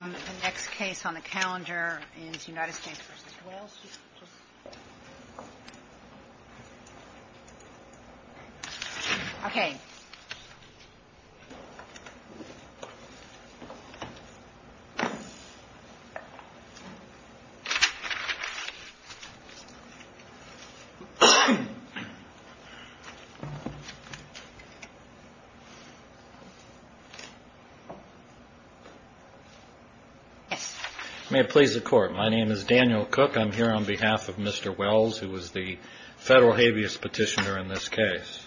and the next case on the calendar is United States v. Wells. Speak without voice. May please record. My name is Daniel Cook. I'm here on behalf of Mr. Wells, who was the federal habeas petitioner in this case.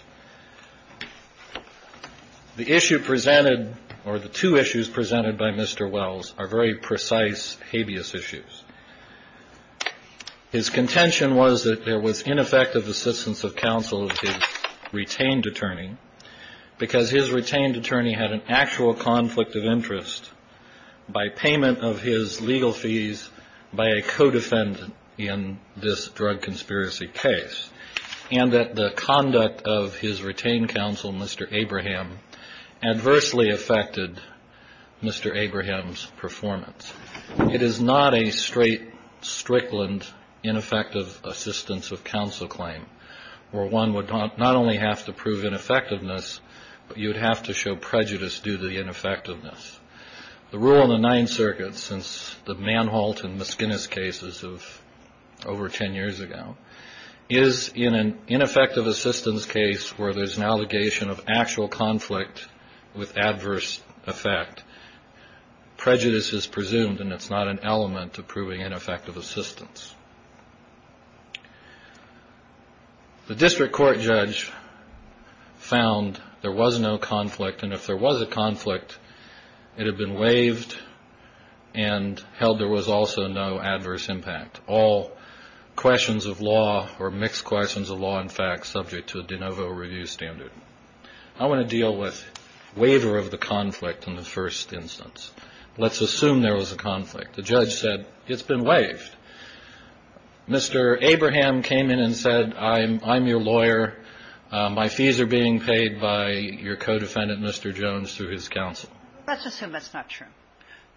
The issue presented, or the two issues presented by Mr. Wells, are very precise habeas issues. His contention was that there was ineffective assistance of counsel of his retained attorney because his retained attorney had an actual conflict of interest by payment of his legal fees by a co-defendant in this drug conspiracy case, and that the conduct of his retained counsel, Mr. Abraham, adversely affected Mr. Abraham's performance. It is not a straight, strickland, ineffective assistance of counsel claim, where one would not only have to prove ineffectiveness, but you'd have to show prejudice due to the ineffectiveness. The rule in the Ninth Circuit, since the Manholt and Miskinis cases of over 10 years ago, is in an ineffective assistance case where there's an allegation of actual conflict with adverse effect. Prejudice is presumed, and it's not an element to proving ineffective assistance. The district court judge found there was no conflict, and if there was a conflict, it had been waived and held there was also no adverse impact, all questions of law, or mixed questions of law, in fact, subject to a de novo review standard. I want to deal with waiver of the conflict in the first instance. Let's assume there was a conflict. The judge said, it's been waived. Mr. Abraham came in and said, I'm your lawyer. My fees are being paid by your co-defendant, Mr. Jones, through his counsel. Let's assume that's not true,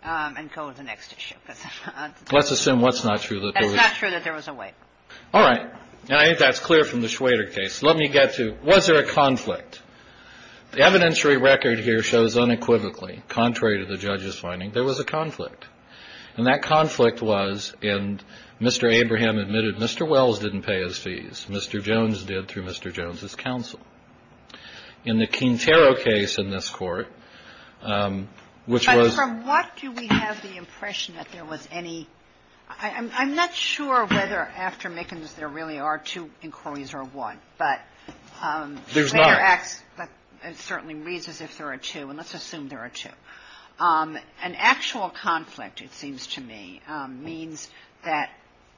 and go to the next issue. Let's assume what's not true. It's not true that there was a waive. All right. I think that's clear from the Schwader case. Let me get to, was there a conflict? The evidentiary record here shows unequivocally, contrary to the judge's finding, there was a conflict. And that conflict was, and Mr. Abraham admitted, Mr. Wells didn't pay his fees. Mr. Jones did through Mr. Jones's counsel. In the Quintero case in this Court, which was ---- But from what do we have the impression that there was any ---- I'm not sure whether after making this there really are two inquiries or one, but ---- There's not. But it certainly reads as if there are two, and let's assume there are two. An actual conflict, it seems to me, means that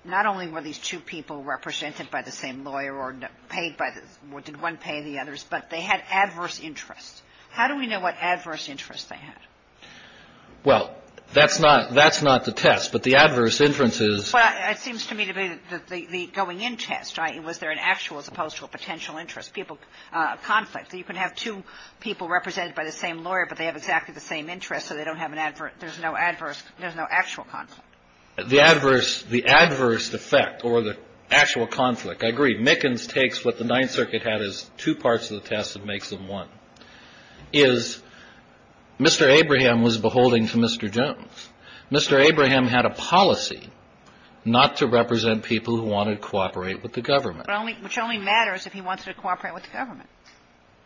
not only were these two people represented by the same lawyer or paid by the ---- or did one pay the others, but they had adverse interests. How do we know what adverse interests they had? Well, that's not the test, but the adverse interest is ---- Well, it seems to me to be the going-in test, right? Was there an actual as opposed to a potential interest? People ---- conflict. You can have two people represented by the same lawyer, but they have exactly the same interests, so they don't have an adverse ---- there's no adverse ---- there's no actual conflict. The adverse ---- the adverse effect or the actual conflict, I agree, Mickens takes what the Ninth Circuit had as two parts of the test and makes them one, is Mr. Abraham was beholding to Mr. Jones. Mr. Abraham had a policy not to represent people who wanted to cooperate with the government. But only ---- which only matters if he wanted to cooperate with the government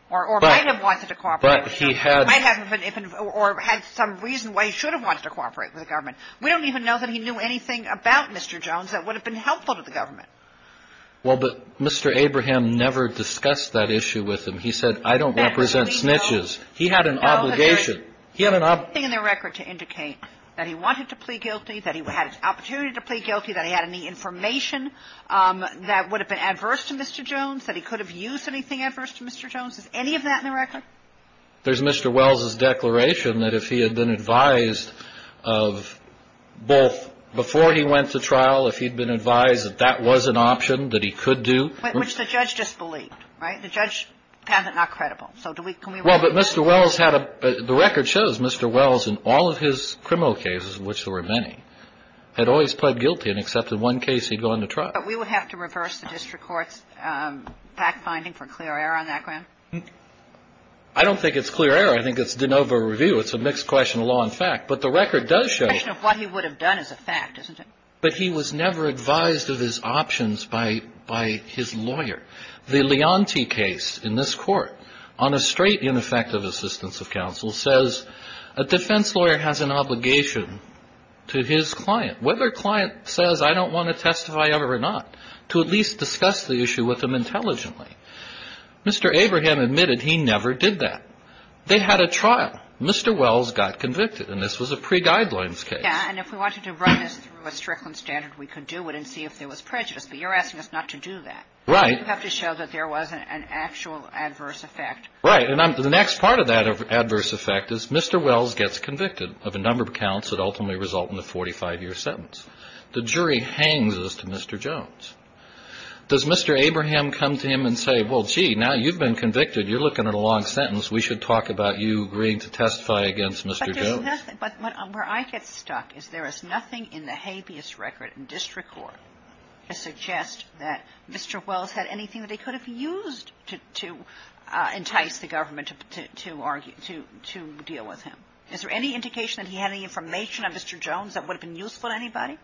or might have wanted to cooperate with the government. But he had ---- Or had some reason why he should have wanted to cooperate with the government. We don't even know that he knew anything about Mr. Jones that would have been helpful to the government. Well, but Mr. Abraham never discussed that issue with him. He said, I don't represent snitches. He had an obligation. He had an obligation. There's nothing in the record to indicate that he wanted to plead guilty, that he had opportunity to plead guilty, that he had any information that would have been adverse to Mr. Jones, that he could have used anything adverse to Mr. Jones. Is any of that in the record? There's Mr. Wells' declaration that if he had been advised of both before he went to trial, if he'd been advised that that was an option that he could do ---- Which the judge disbelieved, right? The judge found it not credible. So do we ---- Well, but Mr. Wells had a ---- the record shows Mr. Wells in all of his criminal cases, of which there were many, had always pled guilty and accepted one case he'd gone to trial. But we would have to reverse the district court's fact-finding for clear error on that ground? I don't think it's clear error. I think it's de novo review. It's a mixed question of law and fact. But the record does show ---- The question of what he would have done is a fact, isn't it? But he was never advised of his options by his lawyer. The Leontie case in this court on a straight ineffective assistance of counsel says a defense lawyer has an obligation to his client, whether client says I don't want to testify ever or not, to at least discuss the issue with him intelligently. Mr. Abraham admitted he never did that. They had a trial. Mr. Wells got convicted. And this was a pre-guidelines case. And if we wanted to run this through a Strickland standard, we could do it and see if there was prejudice. But you're asking us not to do that. Right. You have to show that there was an actual adverse effect. Right. And the next part of that adverse effect is Mr. Wells gets convicted of a number of counts that ultimately result in a 45-year sentence. The jury hangs this to Mr. Jones. Does Mr. Abraham come to him and say, well, gee, now you've been convicted. You're looking at a long sentence. We should talk about you agreeing to testify against Mr. Jones. But there's nothing ---- But where I get stuck is there is nothing in the habeas record in district court that suggests that Mr. Wells had anything that he could have used to entice the government to argue, to deal with him. Is there any indication that he had any information on Mr. Jones that would have been useful to anybody?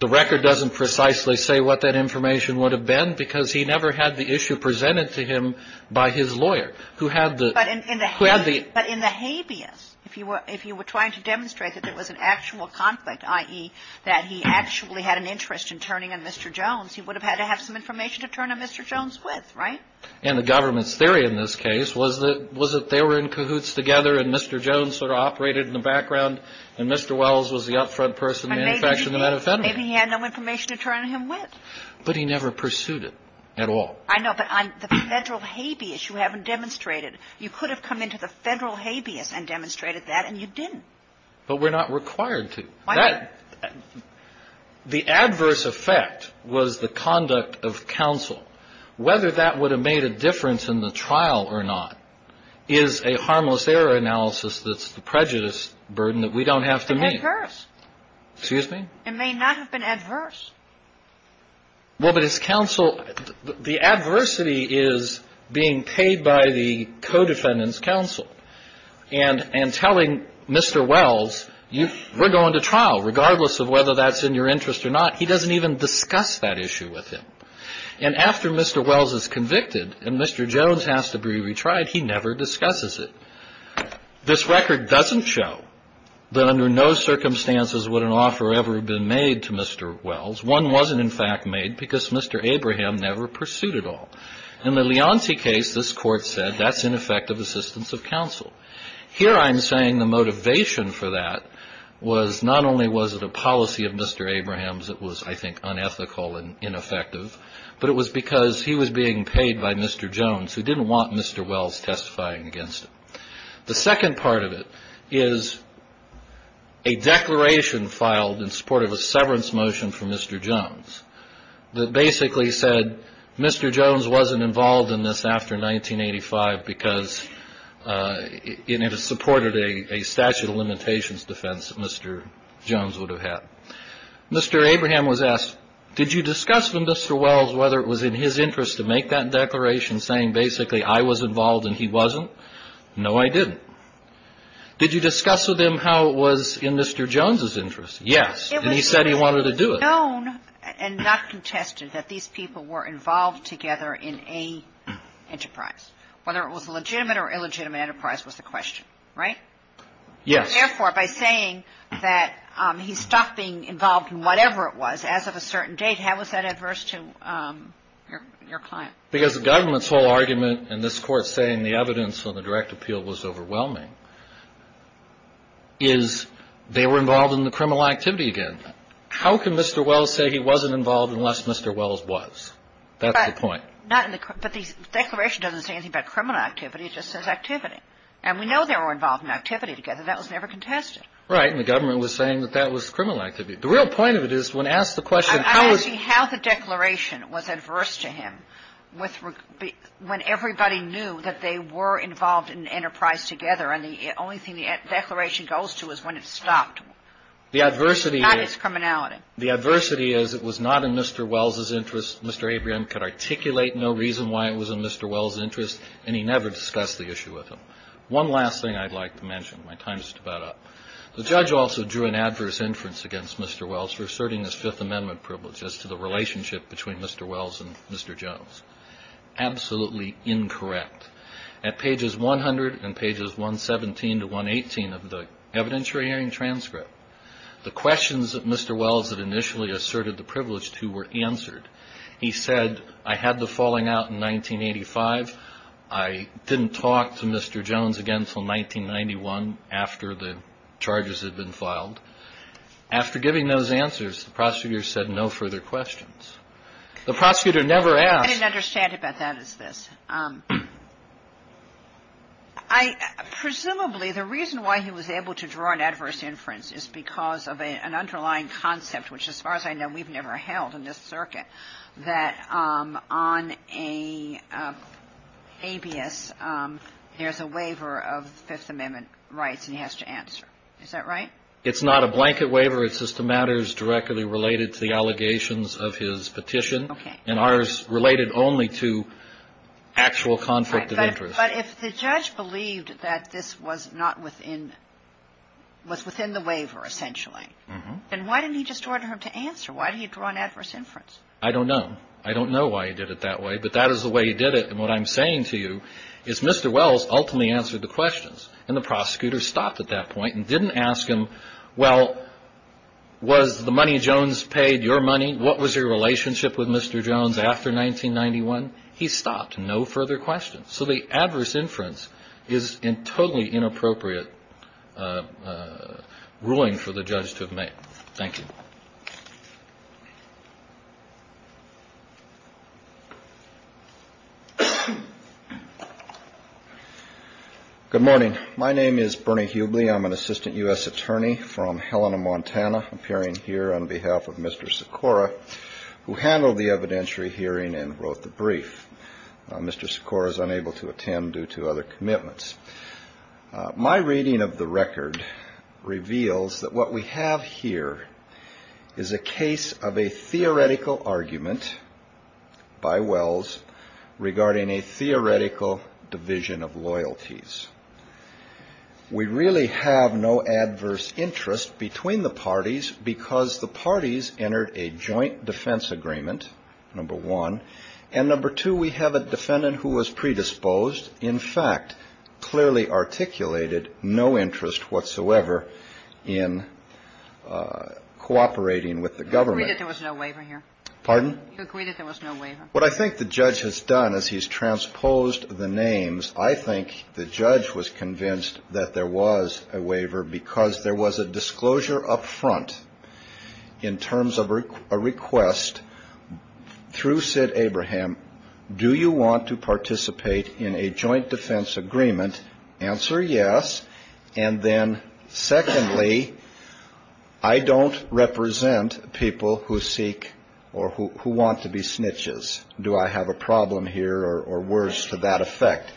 The record doesn't precisely say what that information would have been because he never had the issue presented to him by his lawyer, who had the ---- But in the habeas, if you were trying to demonstrate that there was an actual conflict, i.e., that he actually had an interest in turning on Mr. Jones, he would have had to have some information to turn on Mr. Jones with, right? And the government's theory in this case was that they were in cahoots together and Mr. Jones sort of operated in the background and Mr. Wells was the up-front person in the manufacture of the methamphetamine. Maybe he had no information to turn on him with. But he never pursued it at all. I know, but on the federal habeas, you haven't demonstrated. You could have come into the federal habeas and demonstrated that, and you didn't. But we're not required to. That ---- The adverse effect was the conduct of counsel. Whether that would have made a difference in the trial or not is a harmless error analysis that's the prejudice burden that we don't have to meet. It's adverse. Excuse me? It may not have been adverse. Well, but it's counsel ---- The adversity is being paid by the co-defendant's counsel and telling Mr. Wells, we're going to trial, regardless of whether that's in your interest or not. He doesn't even discuss that issue with him. And after Mr. Wells is convicted and Mr. Jones has to be retried, he never discusses it. This record doesn't show that under no circumstances would an offer ever have been made to Mr. Wells. One wasn't, in fact, made because Mr. Abraham never pursued at all. In the Leonsi case, this Court said that's ineffective assistance of counsel. Here I'm saying the motivation for that was not only was it a policy of Mr. Abraham's that was, I think, unethical and ineffective, but it was because he was being paid by Mr. Jones who didn't want Mr. Wells testifying against him. The second part of it is a declaration filed in support of a severance motion from Mr. Jones that basically said Mr. Jones wasn't involved in this after 1985 because it had supported a statute of limitations defense that Mr. Jones would have had. Mr. Abraham was asked, did you discuss with Mr. Wells whether it was in his interest to make that declaration saying basically I was involved and he wasn't? No, I didn't. Did you discuss with him how it was in Mr. Jones's interest? And he said he wanted to do it. It was known and not contested that these people were involved together in a enterprise. Whether it was a legitimate or illegitimate enterprise was the question, right? Yes. Therefore, by saying that he stopped being involved in whatever it was as of a certain date, how was that adverse to your client? Because the government's whole argument in this Court saying the evidence on the direct appeal was overwhelming is they were involved in the criminal activity again. How can Mr. Wells say he wasn't involved unless Mr. Wells was? That's the point. But the declaration doesn't say anything about criminal activity. It just says activity. And we know they were involved in activity together. That was never contested. Right. And the government was saying that that was criminal activity. The real point of it is when asked the question, how was he ‑‑ I'm asking how the declaration was adverse to him when everybody knew that they were involved in an enterprise together, and the only thing the declaration goes to is when it's stopped. The adversity is ‑‑ Not his criminality. The adversity is it was not in Mr. Wells's interest. Mr. Abraham could articulate no reason why it was in Mr. Wells's interest, and he never discussed the issue with him. One last thing I'd like to mention. My time is just about up. The judge also drew an adverse inference against Mr. Wells for asserting his Fifth Amendment privilege as to the relationship between Mr. Wells and Mr. Jones. Absolutely incorrect. At pages 100 and pages 117 to 118 of the evidentiary hearing transcript, the questions that Mr. Wells had initially asserted the privilege to were answered. He said, I had the falling out in 1985. I didn't talk to Mr. Jones again until 1991 after the charges had been filed. After giving those answers, the prosecutor said no further questions. The prosecutor never asked ‑‑ I didn't understand it, but that is this. Presumably the reason why he was able to draw an adverse inference is because of an underlying concept, which, as far as I know, we've never held in this circuit, that on a habeas, there's a waiver of Fifth Amendment rights, and he has to answer. Is that right? It's not a blanket waiver. It's just a matter directly related to the allegations of his petition. Okay. And ours related only to actual conflict of interest. But if the judge believed that this was not within ‑‑ was within the waiver, essentially, then why didn't he just order him to answer? Why did he draw an adverse inference? I don't know. I don't know why he did it that way, but that is the way he did it. And what I'm saying to you is Mr. Wells ultimately answered the questions, and the prosecutor stopped at that point and didn't ask him, well, was the money Jones paid your money? What was your relationship with Mr. Jones after 1991? He stopped. No further questions. So the adverse inference is a totally inappropriate ruling for the judge to have made. Thank you. Good morning. My name is Bernie Hubley. I'm an assistant U.S. attorney from Helena, Montana, appearing here on behalf of Mr. Sikora, who handled the evidentiary hearing and wrote the brief. Mr. Sikora is unable to attend due to other commitments. My reading of the record reveals that what we have here is a case of a theoretical argument by Wells regarding a theoretical division of loyalties. We really have no adverse interest between the parties because the parties entered a joint defense agreement, number one, and number two, we have a defendant who was predisposed, in fact, clearly articulated no interest whatsoever in cooperating with the government. You agree that there was no waiver here? Pardon? You agree that there was no waiver? What I think the judge has done is he's transposed the names. I think the judge was convinced that there was a waiver because there was a disclosure up front in terms of a request through Sid Abraham, do you want to participate in a joint defense agreement, answer yes, and then secondly, I don't represent people who seek or who want to be snitches. Do I have a problem here or worse to that effect?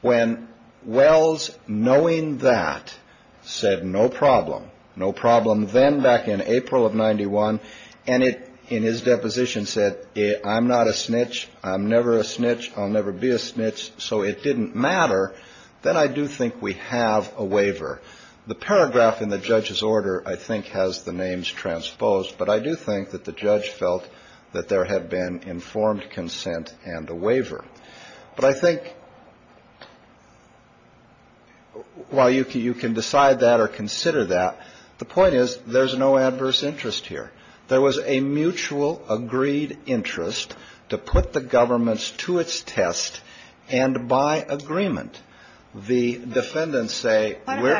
When Wells, knowing that, said no problem, no problem, then back in April of 91 and in his deposition said, I'm not a snitch, I'm never a snitch, I'll never be a snitch, so it didn't matter, then I do think we have a waiver. The paragraph in the judge's order I think has the names transposed, but I do think that the judge felt that there had been informed consent and a waiver. But I think while you can decide that or consider that, the point is there's no adverse interest here. There was a mutual agreed interest to put the government to its test, and by agreement, the defendants say we're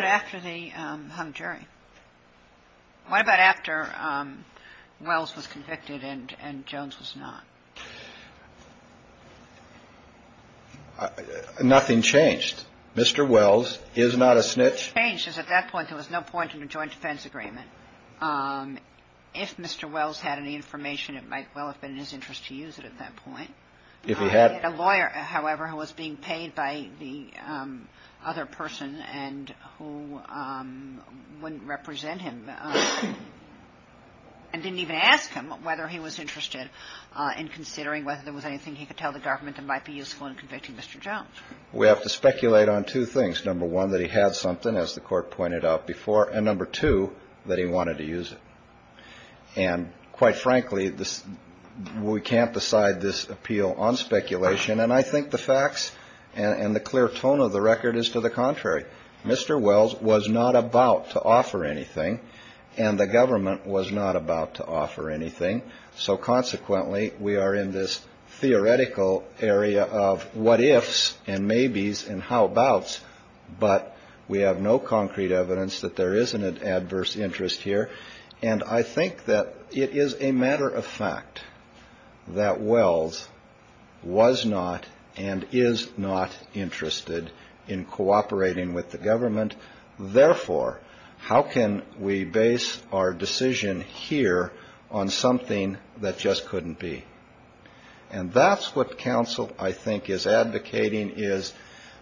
--" Nothing changed. Mr. Wells is not a snitch. Changed is at that point there was no point in a joint defense agreement. If Mr. Wells had any information, it might well have been in his interest to use it at that point. If he had. I had a lawyer, however, who was being paid by the other person and who wouldn't represent him and didn't even ask him whether he was interested in considering whether there was anything he could tell the government that might be useful in convicting Mr. Jones. We have to speculate on two things. Number one, that he had something, as the Court pointed out before. And number two, that he wanted to use it. And quite frankly, we can't decide this appeal on speculation. And I think the facts and the clear tone of the record is to the contrary. Mr. Wells was not about to offer anything, and the government was not about to offer anything. So consequently, we are in this theoretical area of what ifs and maybes and how abouts. But we have no concrete evidence that there is an adverse interest here. And I think that it is a matter of fact that Wells was not and is not interested in cooperating with the government. Therefore, how can we base our decision here on something that just couldn't be? And that's what counsel, I think, is advocating is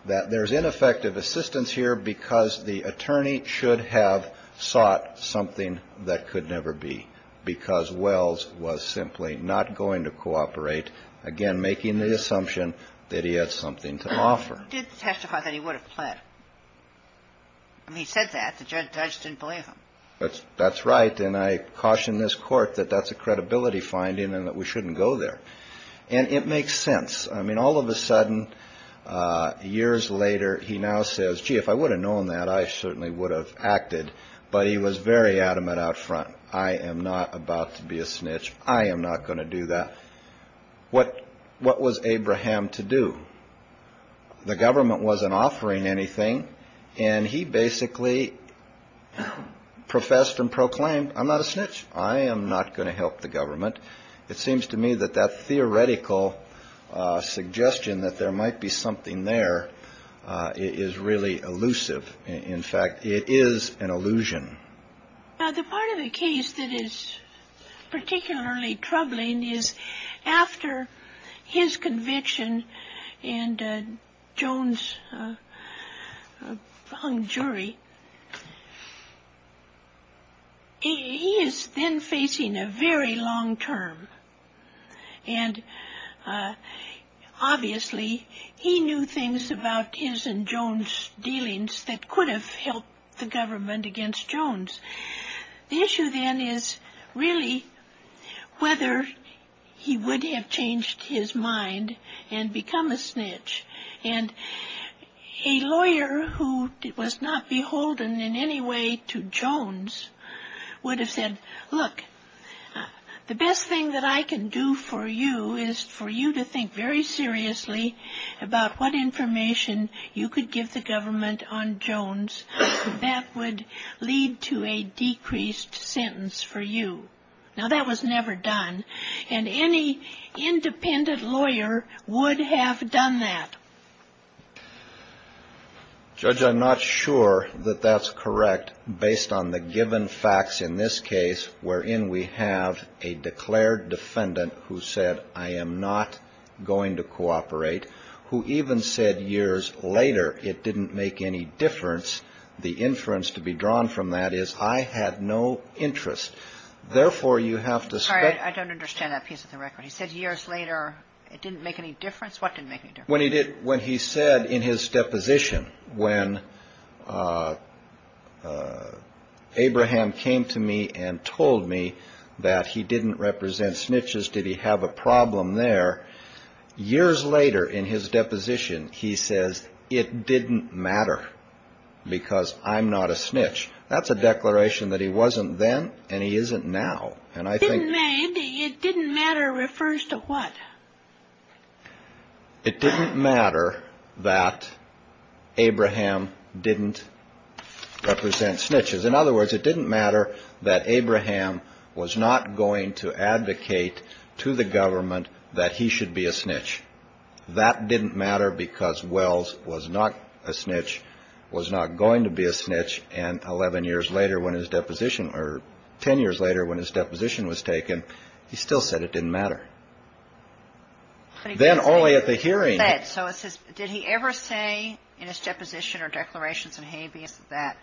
that there's ineffective assistance here because the attorney should have sought something that could never be, because Wells was simply not going to cooperate, again, making the assumption that he had something to offer. What did testify that he would have pled? I mean, he said that. The judge didn't believe him. That's right. And I caution this Court that that's a credibility finding and that we shouldn't go there. And it makes sense. I mean, all of a sudden, years later, he now says, gee, if I would have known that, I certainly would have acted. But he was very adamant out front. I am not about to be a snitch. I am not going to do that. What was Abraham to do? The government wasn't offering anything, and he basically professed and proclaimed, I'm not a snitch. I am not going to help the government. It seems to me that that theoretical suggestion that there might be something there is really elusive. In fact, it is an illusion. The part of the case that is particularly troubling is after his conviction and Jones' hung jury, he is then facing a very long term. And obviously, he knew things about his and Jones' dealings that could have helped the government against Jones. The issue then is really whether he would have changed his mind and become a snitch. And a lawyer who was not beholden in any way to Jones would have said, look, the best thing that I can do for you is for you to think very seriously about what information you could give the government on Jones. That would lead to a decreased sentence for you. Now, that was never done. And any independent lawyer would have done that. Judge, I'm not sure that that's correct based on the given facts in this case wherein we have a declared defendant who said, I am not going to cooperate, who even said years later, it didn't make any difference. The inference to be drawn from that is I had no interest. Therefore, you have to say I don't understand that piece of the record. He said years later, it didn't make any difference. What did make me when he did when he said in his deposition, when Abraham came to me and told me that he didn't represent snitches, did he have a problem there? Years later, in his deposition, he says it didn't matter because I'm not a snitch. That's a declaration that he wasn't then and he isn't now. And I think it didn't matter refers to what? It didn't matter that Abraham didn't represent snitches. In other words, it didn't matter that Abraham was not going to advocate to the government that he should be a snitch. That didn't matter because Wells was not a snitch, was not going to be a snitch. And 11 years later, when his deposition or 10 years later, when his deposition was taken, he still said it didn't matter. Then only at the hearing. So it says, did he ever say in his deposition or declarations and habeas that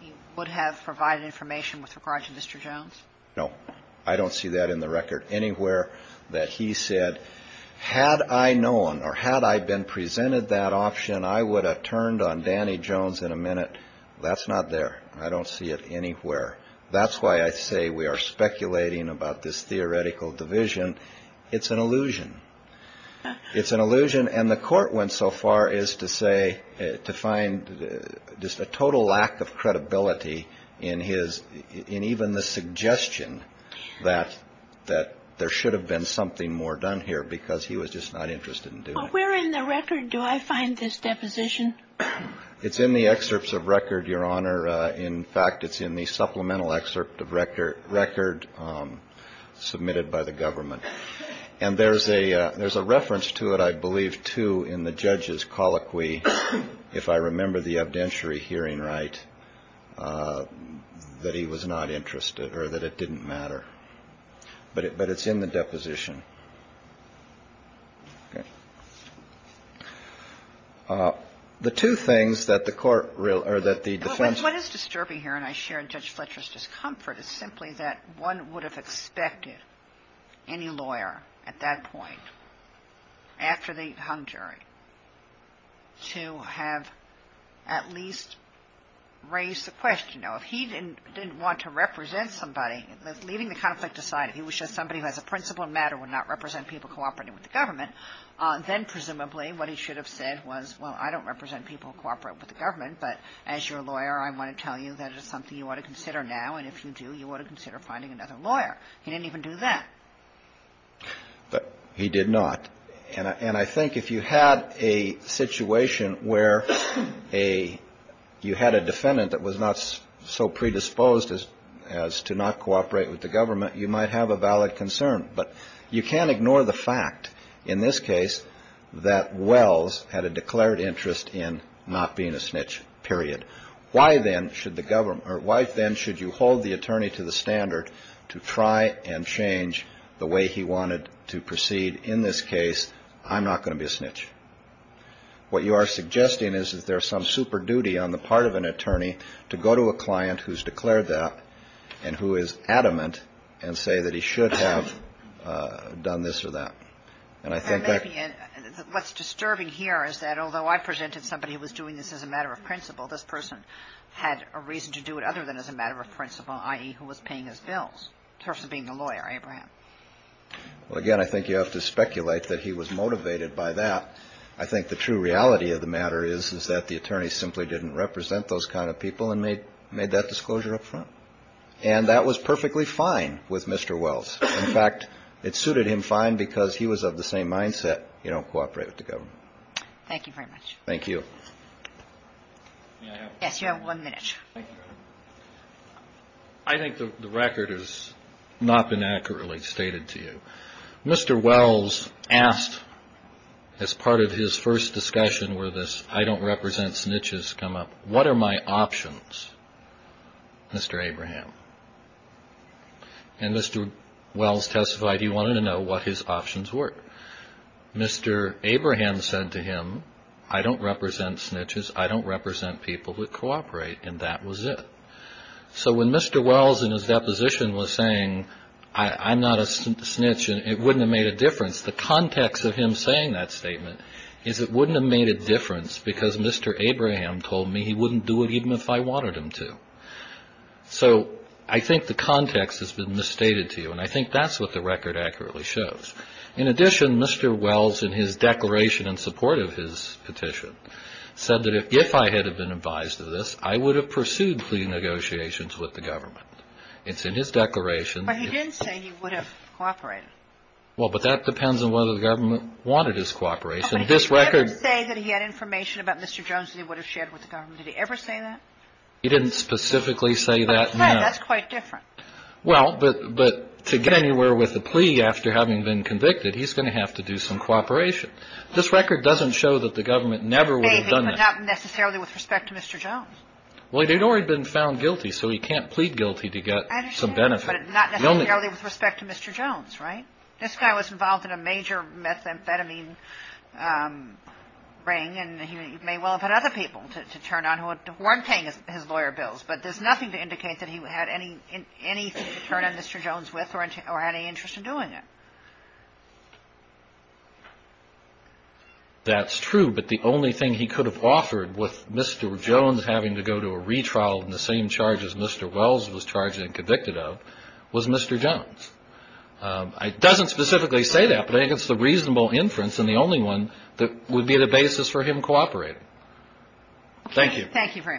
he would have provided information with regard to Mr. Jones? No, I don't see that in the record anywhere that he said, had I known or had I been presented that option, I would have turned on Danny Jones in a minute. That's not there. I don't see it anywhere. That's why I say we are speculating about this theoretical division. It's an illusion. It's an illusion. And the court went so far as to say to find just a total lack of credibility in his in even the suggestion that that there should have been something more done here because he was just not interested in doing the record. Do I find this deposition? It's in the excerpts of record, Your Honor. In fact, it's in the supplemental excerpt of record record submitted by the government. And there's a there's a reference to it, I believe, too, in the judge's colloquy, if I remember the evidentiary hearing right, that he was not interested or that it didn't matter. But but it's in the deposition. The two things that the court or that the defense. What is disturbing here, and I share in Judge Fletcher's discomfort, is simply that one would have expected any lawyer at that point. After the hung jury. To have at least raised the question, you know, if he didn't didn't want to represent somebody leaving the conflict aside, if he was just somebody who has a principle matter would not represent people cooperating with the government. Then presumably what he should have said was, well, I don't represent people cooperate with the government. But as your lawyer, I want to tell you that is something you ought to consider now. And if you do, you ought to consider finding another lawyer. He didn't even do that. But he did not. And I think if you had a situation where a you had a defendant that was not so predisposed as as to not cooperate with the government, you might have a valid concern. But you can't ignore the fact in this case that Wells had a declared interest in not being a snitch, period. Why, then, should the government or wife, then, should you hold the attorney to the standard to try and change the way he wanted to proceed? In this case, I'm not going to be a snitch. What you are suggesting is that there's some super duty on the part of an attorney to go to a client who's declared that and who is adamant and say that he should have done this or that. And I think that what's disturbing here is that although I presented somebody who was doing this as a matter of principle, this person had a reason to do it other than as a matter of principle, i.e., who was paying his bills. Well, again, I think you have to speculate that he was motivated by that. I think the true reality of the matter is, is that the attorney simply didn't represent those kind of people and made that disclosure up front. And that was perfectly fine with Mr. Wells. In fact, it suited him fine because he was of the same mindset, you know, cooperate with the government. Thank you very much. Thank you. Yes, you have one minute. I think the record has not been accurately stated to you. Mr. Wells asked, as part of his first discussion where this I don't represent snitches come up, what are my options, Mr. Abraham? And Mr. Wells testified he wanted to know what his options were. Mr. Abraham said to him, I don't represent snitches. I don't represent people who cooperate. And that was it. So when Mr. Wells in his deposition was saying, I'm not a snitch, it wouldn't have made a difference. The context of him saying that statement is it wouldn't have made a difference because Mr. Abraham told me he wouldn't do it even if I wanted him to. So I think the context has been misstated to you. And I think that's what the record accurately shows. In addition, Mr. Wells in his declaration in support of his petition said that if I had been advised of this, I would have pursued plea negotiations with the government. It's in his declaration. But he didn't say he would have cooperated. Well, but that depends on whether the government wanted his cooperation. Did he ever say that he had information about Mr. Jones that he would have shared with the government? Did he ever say that? He didn't specifically say that, no. That's quite different. Well, but to get anywhere with the plea after having been convicted, he's going to have to do some cooperation. This record doesn't show that the government never would have done that. Maybe, but not necessarily with respect to Mr. Jones. Well, he'd already been found guilty, so he can't plead guilty to get some benefit. I understand, but not necessarily with respect to Mr. Jones, right? This guy was involved in a major methamphetamine ring, and he may well have had other people to turn on who weren't paying his lawyer bills. But there's nothing to indicate that he had anything to turn on Mr. Jones with or had any interest in doing it. That's true, but the only thing he could have offered with Mr. Jones having to go to a retrial in the same charge as Mr. Wells was charged and convicted of was Mr. Jones. It doesn't specifically say that, but I think it's the reasonable inference and the only one that would be the basis for him cooperating. Thank you. Thank you very much.